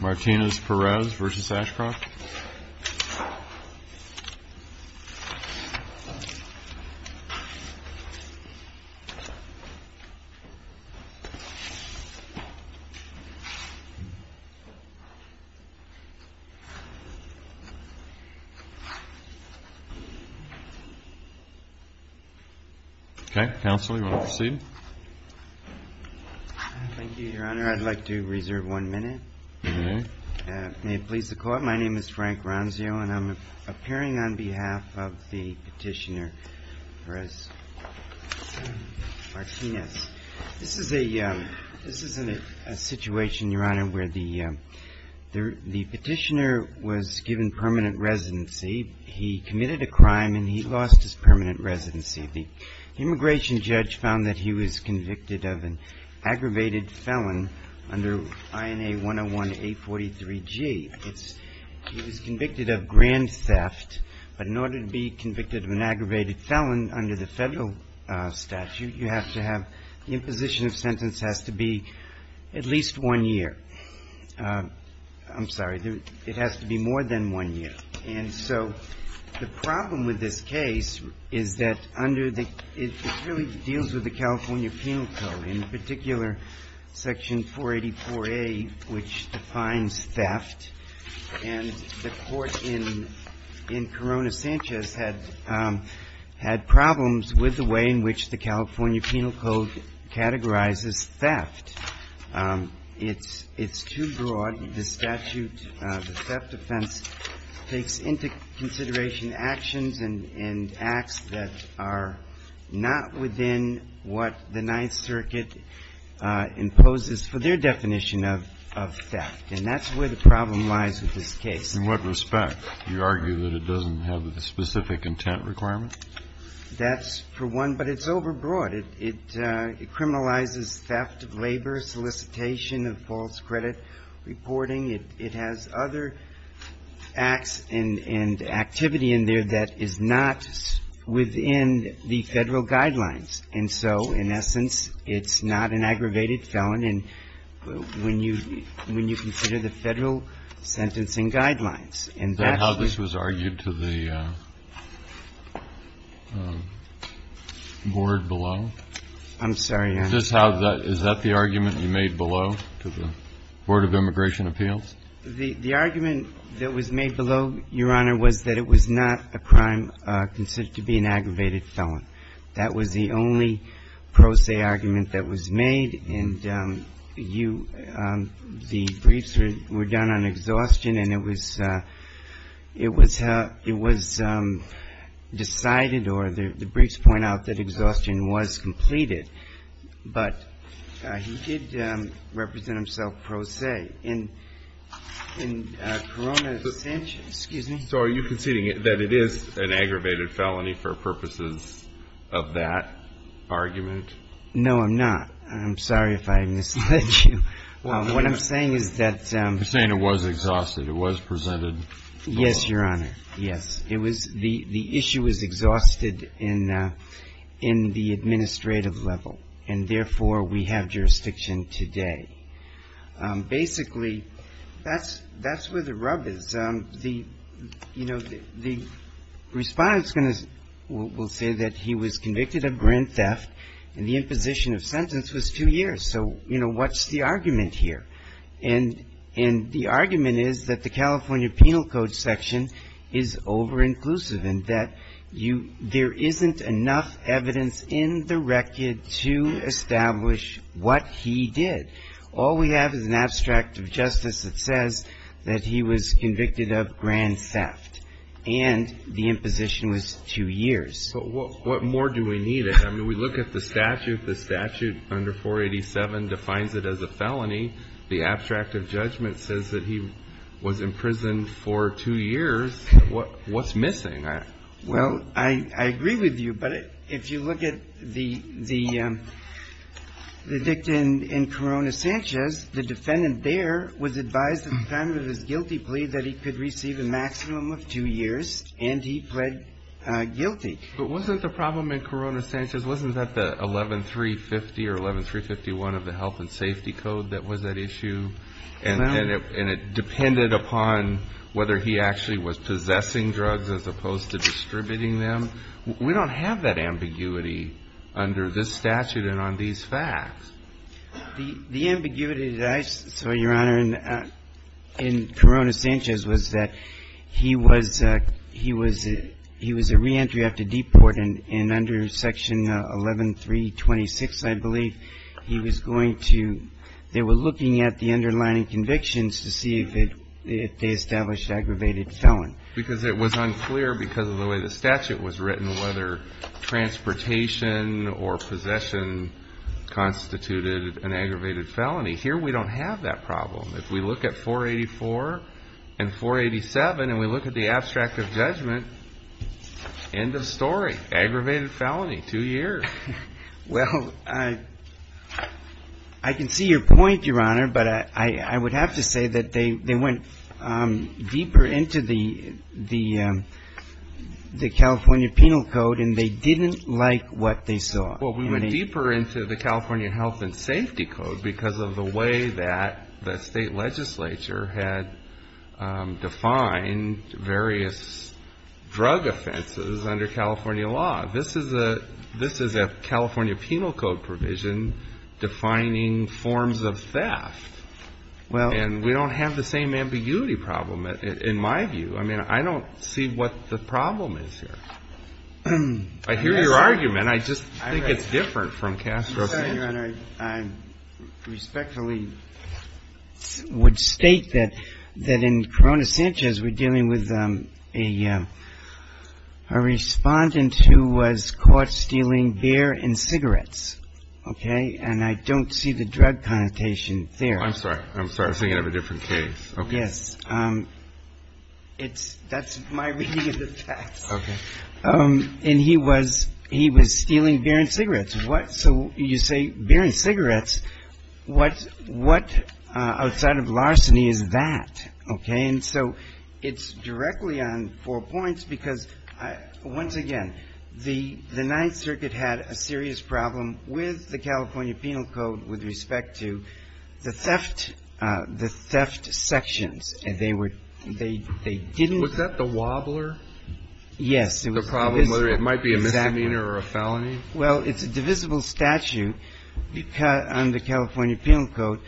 MARTINEZ-PEREZ v. ASHCROFT Thank you, Your Honor. I'd like to reserve one minute. May it please the Court, my name is Frank Ronzio, and I'm appearing on behalf of the Petitioner Perez-Martinez. This is a situation, Your Honor, where the Petitioner was given permanent residency. He committed a crime, and he lost his permanent residency. The immigration judge found that he was convicted of an aggravated felon under INA 101-A43G. He was convicted of grand theft, but in order to be convicted of an aggravated felon under the federal statute, you have to have the imposition of sentence has to be at least one year. I'm sorry, it has to be more than one year. And so the problem with this case is that under the – it really deals with the California Penal Code, in particular, Section 484-A, which defines theft. And the Court in Corona-Sanchez had problems with the way in which the California Defense takes into consideration actions and acts that are not within what the Ninth Circuit imposes for their definition of theft. And that's where the problem lies with this case. In what respect? Do you argue that it doesn't have a specific intent requirement? That's for one. But it's overbroad. It criminalizes theft of labor, solicitation of false credit reporting. It has other acts and activity in there that is not within the federal guidelines. And so, in essence, it's not an aggravated felon when you consider the federal sentencing guidelines. Is that how this was argued to the board below? I'm sorry. Is that the argument you made below to the Board of Immigration Appeals? The argument that was made below, Your Honor, was that it was not a crime considered to be an aggravated felon. That was the only pro se argument that was made. And the briefs were done on exhaustion, and it was decided, or the briefs point out that exhaustion was completed. But he did represent himself pro se in Corona's sentence. So are you conceding that it is an aggravated felony for purposes of that argument? No, I'm not. I'm sorry if I misled you. What I'm saying is that the issue was exhausted in the administrative level, and therefore, we have jurisdiction today. Basically, that's where the rub is. The respondent will say that he was convicted of grand theft, and the imposition of sentence was two years. So what's the argument here? And the argument is that the California Penal Code section is over-inclusive, and that you – there isn't enough evidence in the record to establish what he did. All we have is an abstract of justice that says that he was convicted of grand theft, and the imposition was two years. But what more do we need? I mean, we look at the statute. The statute under 487 defines it as a felony. The abstract of judgment says that he was convicted of grand theft and was in prison for two years. What's missing? Well, I agree with you, but if you look at the dictum in Corona-Sanchez, the defendant there was advised at the time of his guilty plea that he could receive a maximum of two years, and he pled guilty. But wasn't the problem in Corona-Sanchez, wasn't that the 11350 or 11351 of the Health and Safety Code that was at issue? And it depended upon whether he actually was possessing drugs as opposed to distributing them. We don't have that ambiguity under this statute and on these facts. The ambiguity that I saw, Your Honor, in Corona-Sanchez was that he was a reentry after they were looking at the underlying convictions to see if they established aggravated felony. Because it was unclear because of the way the statute was written whether transportation or possession constituted an aggravated felony. Here we don't have that problem. If we look at 484 and 487 and we look at the abstract of judgment, end of story. Aggravated felony, two years. Well, I can see your point, Your Honor, but I would have to say that they went deeper into the California Penal Code and they didn't like what they saw. Well, we went deeper into the California Health and Safety Code because of the way that the state legislature had defined various drug offenses under California law. This is a California Penal Code provision defining forms of theft. And we don't have the same ambiguity problem in my view. I mean, I don't see what the problem is here. I hear your argument, I just think it's different from Castro's. I respectfully would state that in Corona-Sanchez we're dealing with a respondent who was caught stealing beer and cigarettes. Okay? And I don't see the drug connotation there. I'm sorry. I'm sorry. I was thinking of a different case. Yes. That's my reading of the facts. Okay. And he was stealing beer and cigarettes. So you say beer and cigarettes. What outside of larceny is that? Okay? And so it's directly on four points because once again, the Ninth Circuit had a serious problem with the California Penal Code with respect to the theft, the theft sections. And they were, they didn't Was that the wobbler? Yes. The problem, whether it might be a misdemeanor or a felony? Well, it's a divisible statute on the California Penal Code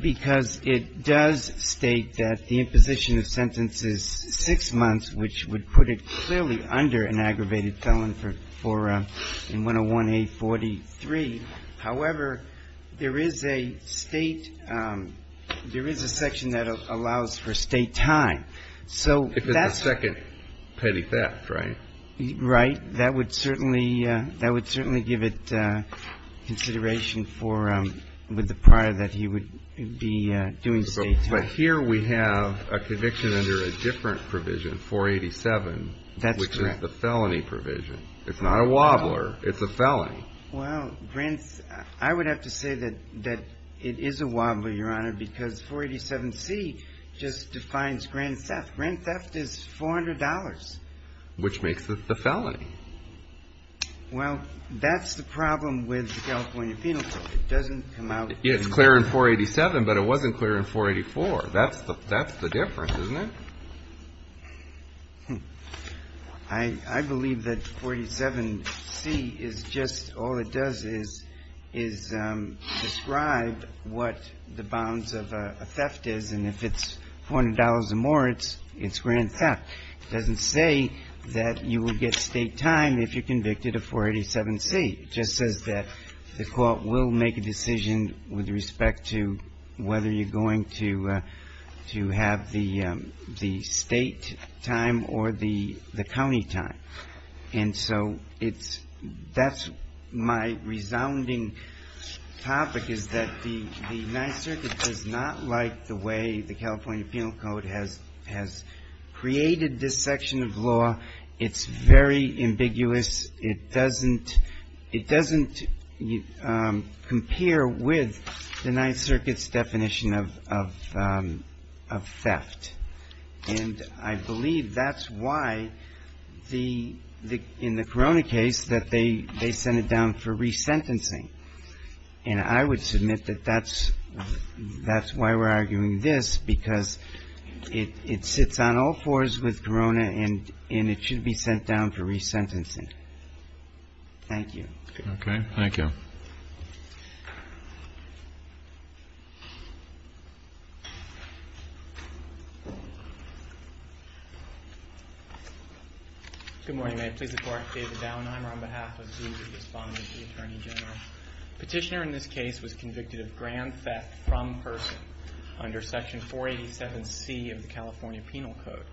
because it does state that the imposition of sentence is six months, which would put it clearly under an aggravated felony for 101A43. However, there is a state, there is a section that allows for state time. If it's a second petty theft, right? Right. That would certainly, that would certainly give it consideration for, with the prior that he would be doing state time. But here we have a conviction under a different provision, 487. That's correct. Which is the felony provision. It's not a wobbler. It's a felony. Well, I would have to say that it is a wobbler, Your Honor, because 487C just defines grand theft. Grand theft is $400. Which makes it the felony. Well, that's the problem with the California Penal Code. It doesn't come out. It's clear in 487, but it wasn't clear in 484. That's the difference, isn't it? I believe that 487C is just, all it does is describe what the bounds of a theft is, and if it's $400 or more, it's grand theft. It doesn't say that you would get state time if you're convicted of 487C. It just says that the court will make a decision with respect to whether you're going to have the state time or the county time. And so it's, that's my resounding topic is that the Ninth Circuit does not like the way the California Penal Code has created this section of law. It's very ambiguous. It doesn't compare with the Ninth Circuit's definition of theft. And I believe that's why, in the Corona case, that they sent it down for resentencing. And I would submit that that's why we're arguing this, because it sits on all fours with Corona, and it should be sent down for resentencing. Thank you. Okay. Thank you. Good morning. May it please the Court. David Dauenheimer on behalf of the Board of Respondents, the Attorney General. Petitioner in this case was convicted of grand theft from person under Section 487C of the California Penal Code.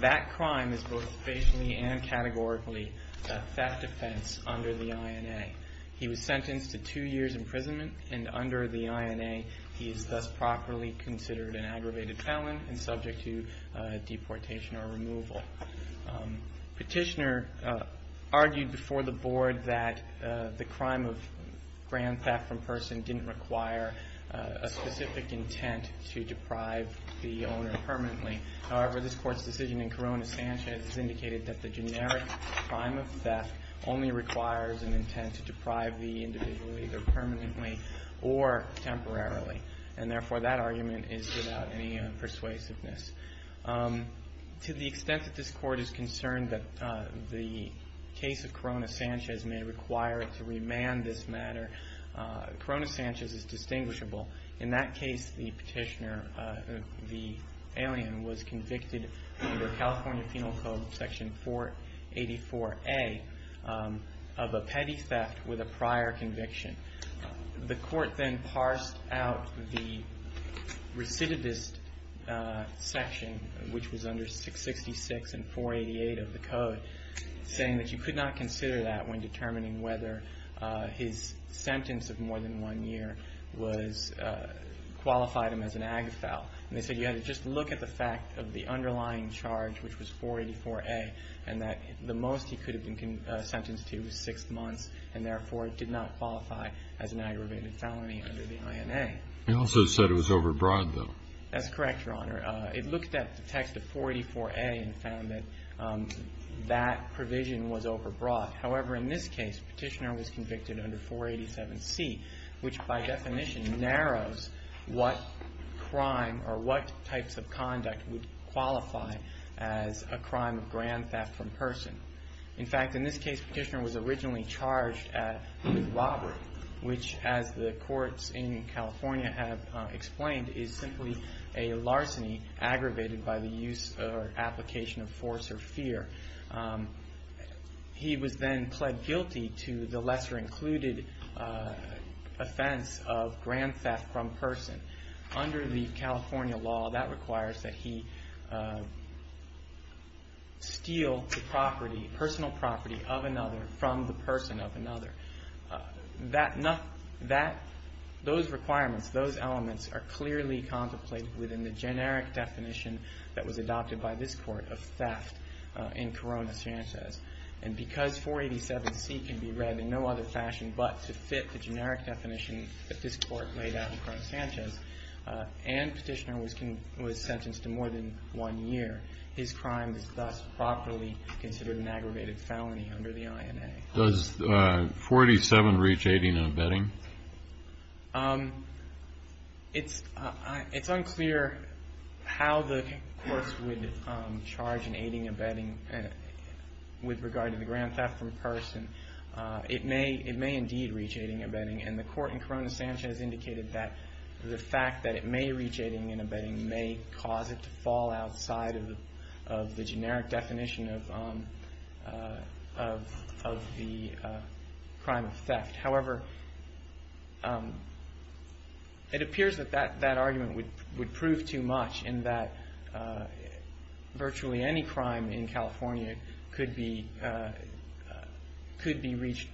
That crime is both basically and categorically a theft offense under the INA. He was sentenced to two years' imprisonment, and under the INA he is thus properly considered an aggravated felon and subject to deportation or removal. Petitioner argued before the Board that the crime of grand theft from person didn't require a specific intent to deprive the owner permanently. However, this Court's decision in Corona-Sanchez has indicated that the generic crime of theft only requires an intent to deprive the individual either permanently or temporarily. And therefore, that argument is without any persuasiveness. To the extent that this Court is concerned that the case of Corona-Sanchez may require it to remand this matter, Corona-Sanchez is distinguishable. In that case, the petitioner, the alien, was convicted under California Penal Code Section 484A of a petty theft with a prior conviction. The Court then parsed out the recidivist section, which was under 666 and 488 of the code, saying that you could not consider that when determining whether his sentence of more than one year qualified him as an agafal. And they said you had to just look at the fact of the underlying charge, which was 484A, and that the most he could have been sentenced to was six months, and therefore it did not qualify as an aggravated felony under the INA. He also said it was overbroad, though. That's correct, Your Honor. It looked at the text of 484A and found that that provision was overbroad. However, in this case, the petitioner was convicted under 487C, which by definition narrows what crime or what types of conduct would qualify as a crime of grand theft from person. In fact, in this case, the petitioner was originally charged with robbery, which, as the courts in California have explained, is simply a larceny aggravated by the use or application of force or fear. He was then pled guilty to the lesser included offense of grand theft from person. Under the California law, that requires that he steal the property, personal property of another from the person of another. Those requirements, those elements are clearly contemplated within the generic definition that was adopted by this Court of theft in Corona-Sanchez. And because 487C can be read in no other fashion but to fit the generic definition that this Court laid out in Corona-Sanchez, and petitioner was sentenced to more than one year, his crime is thus properly considered an aggravated felony under the INA. Does 487 reach aiding and abetting? It's unclear how the courts would charge an aiding and abetting with regard to the grand theft from person. It may indeed reach aiding and abetting, and the court in Corona-Sanchez indicated that the fact that it may reach aiding and abetting may cause it to fall outside of the generic definition of the crime of theft. However, it appears that that argument would prove too much in that virtually any crime in California could be reached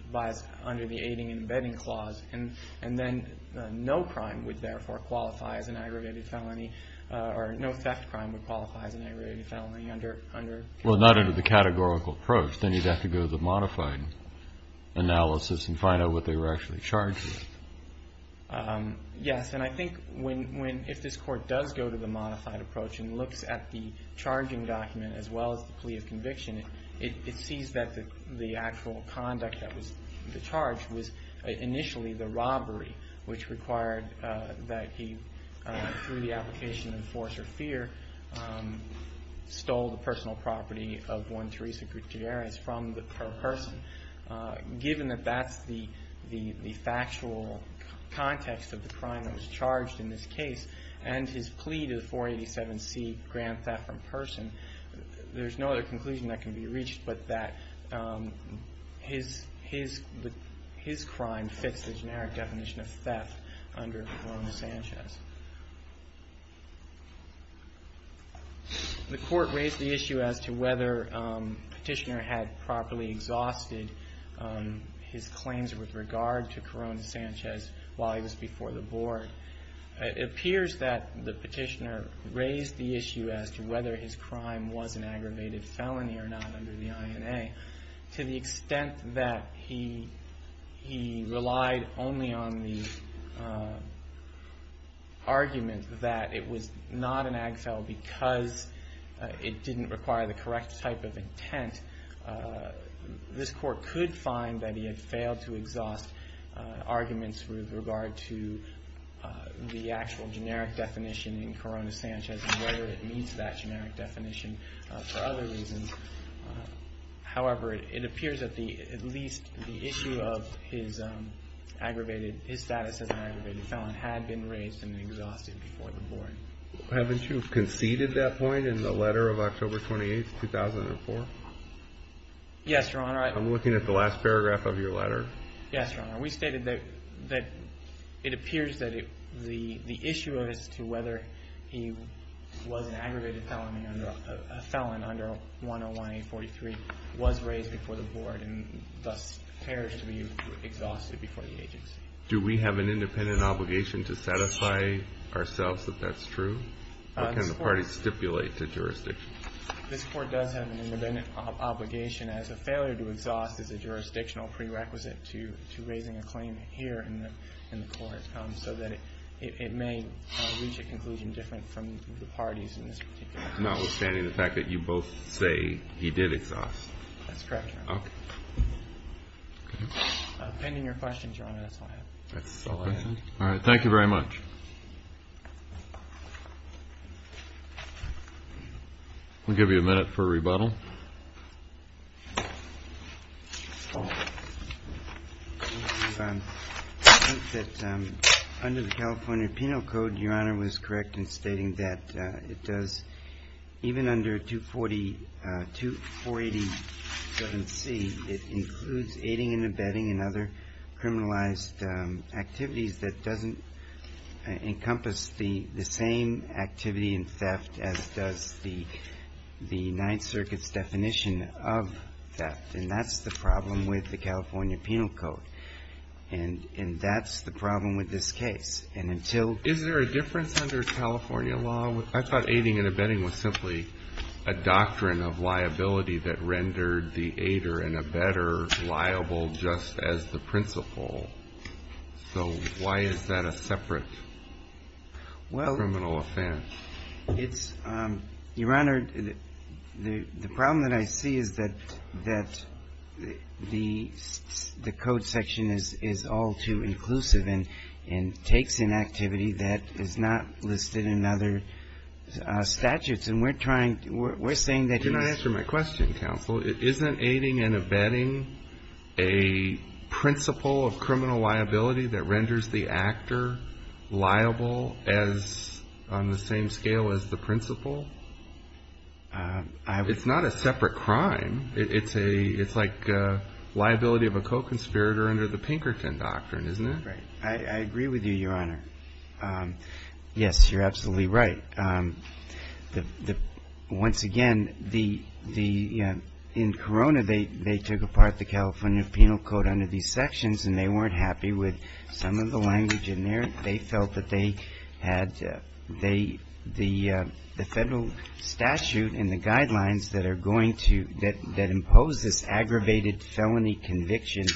under the aiding and abetting clause, and then no crime would therefore qualify as an aggravated felony, or no theft crime would qualify as an aggravated felony under the category. Well, not under the categorical approach. Then you'd have to go to the modified analysis and find out what they were actually charged with. Yes, and I think if this court does go to the modified approach and looks at the charging document as well as the plea of conviction, it sees that the actual conduct that was charged was initially the robbery, which required that he, through the application of force or fear, stole the personal property of one Teresa Gutierrez from her person. Given that that's the factual context of the crime that was charged in this case and his plea to the 487C grand theft from person, there's no other conclusion that can be reached but that his crime fits the generic definition of theft under Corona-Sanchez. The court raised the issue as to whether Petitioner had properly exhausted his claims with regard to Corona-Sanchez while he was before the board. It appears that the Petitioner raised the issue as to whether his crime was an aggravated felony or not under the INA, to the extent that he relied only on the argument that it was not an ag felon because it didn't require the correct type of intent, this court could find that he had failed to exhaust arguments with regard to the actual generic definition in Corona-Sanchez and whether it meets that generic definition for other reasons. However, it appears that at least the issue of his status as an aggravated felon had been raised and exhausted before the board. Haven't you conceded that point in the letter of October 28th, 2004? Yes, Your Honor. I'm looking at the last paragraph of your letter. Yes, Your Honor. We stated that it appears that the issue as to whether he was an aggravated felon under 101-843 was raised before the board and thus appears to be exhausted before the agency. Do we have an independent obligation to satisfy ourselves that that's true or can the parties stipulate the jurisdiction? This court does have an independent obligation as a failure to exhaust is a jurisdictional prerequisite to raising a claim here in the court so that it may reach a conclusion different from the parties in this particular case. Notwithstanding the fact that you both say he did exhaust. That's correct, Your Honor. Okay. Depending on your questions, Your Honor, that's all I have. That's all I have. All right. Thank you very much. We'll give you a minute for a rebuttal. I think that under the California Penal Code, Your Honor, was correct in stating that it does, even under 248-7C, it includes aiding and abetting and other criminalized activities that doesn't encompass the same activity in theft as does the Ninth Circuit's definition of theft. And that's the problem with the California Penal Code. And that's the problem with this case. Is there a difference under California law? I thought aiding and abetting was simply a doctrine of liability that rendered the aider and abetter liable just as the principle. So why is that a separate criminal offense? Well, Your Honor, the problem that I see is that the code section is all too inclusive and takes in activity that is not listed in other statutes. And we're trying to we're saying that, Your Honor. To answer my question, counsel, isn't aiding and abetting a principle of criminal liability that renders the actor liable on the same scale as the principle? It's not a separate crime. It's like liability of a co-conspirator under the Pinkerton Doctrine, isn't it? Right. I agree with you, Your Honor. Yes, you're absolutely right. Once again, in Corona, they took apart the California Penal Code under these sections and they weren't happy with some of the language in there. They felt that they had the federal statute and the guidelines that are going to aggravated felony conviction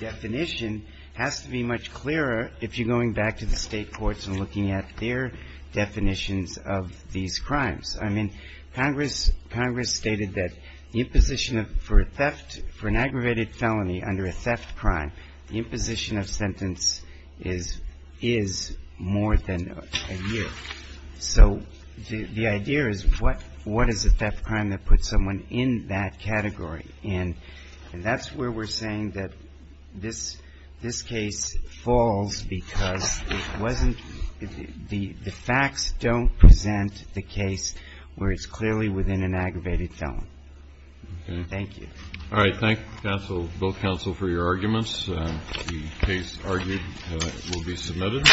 definition has to be much clearer if you're going back to the state courts and looking at their definitions of these crimes. I mean, Congress stated that the imposition for an aggravated felony under a theft crime, the imposition of sentence is more than a year. So the idea is what is a theft crime that puts someone in that category? And that's where we're saying that this case falls because it wasn't the facts don't present the case where it's clearly within an aggravated felony. Thank you. All right. Thank you, both counsel, for your arguments. The case argued will be submitted.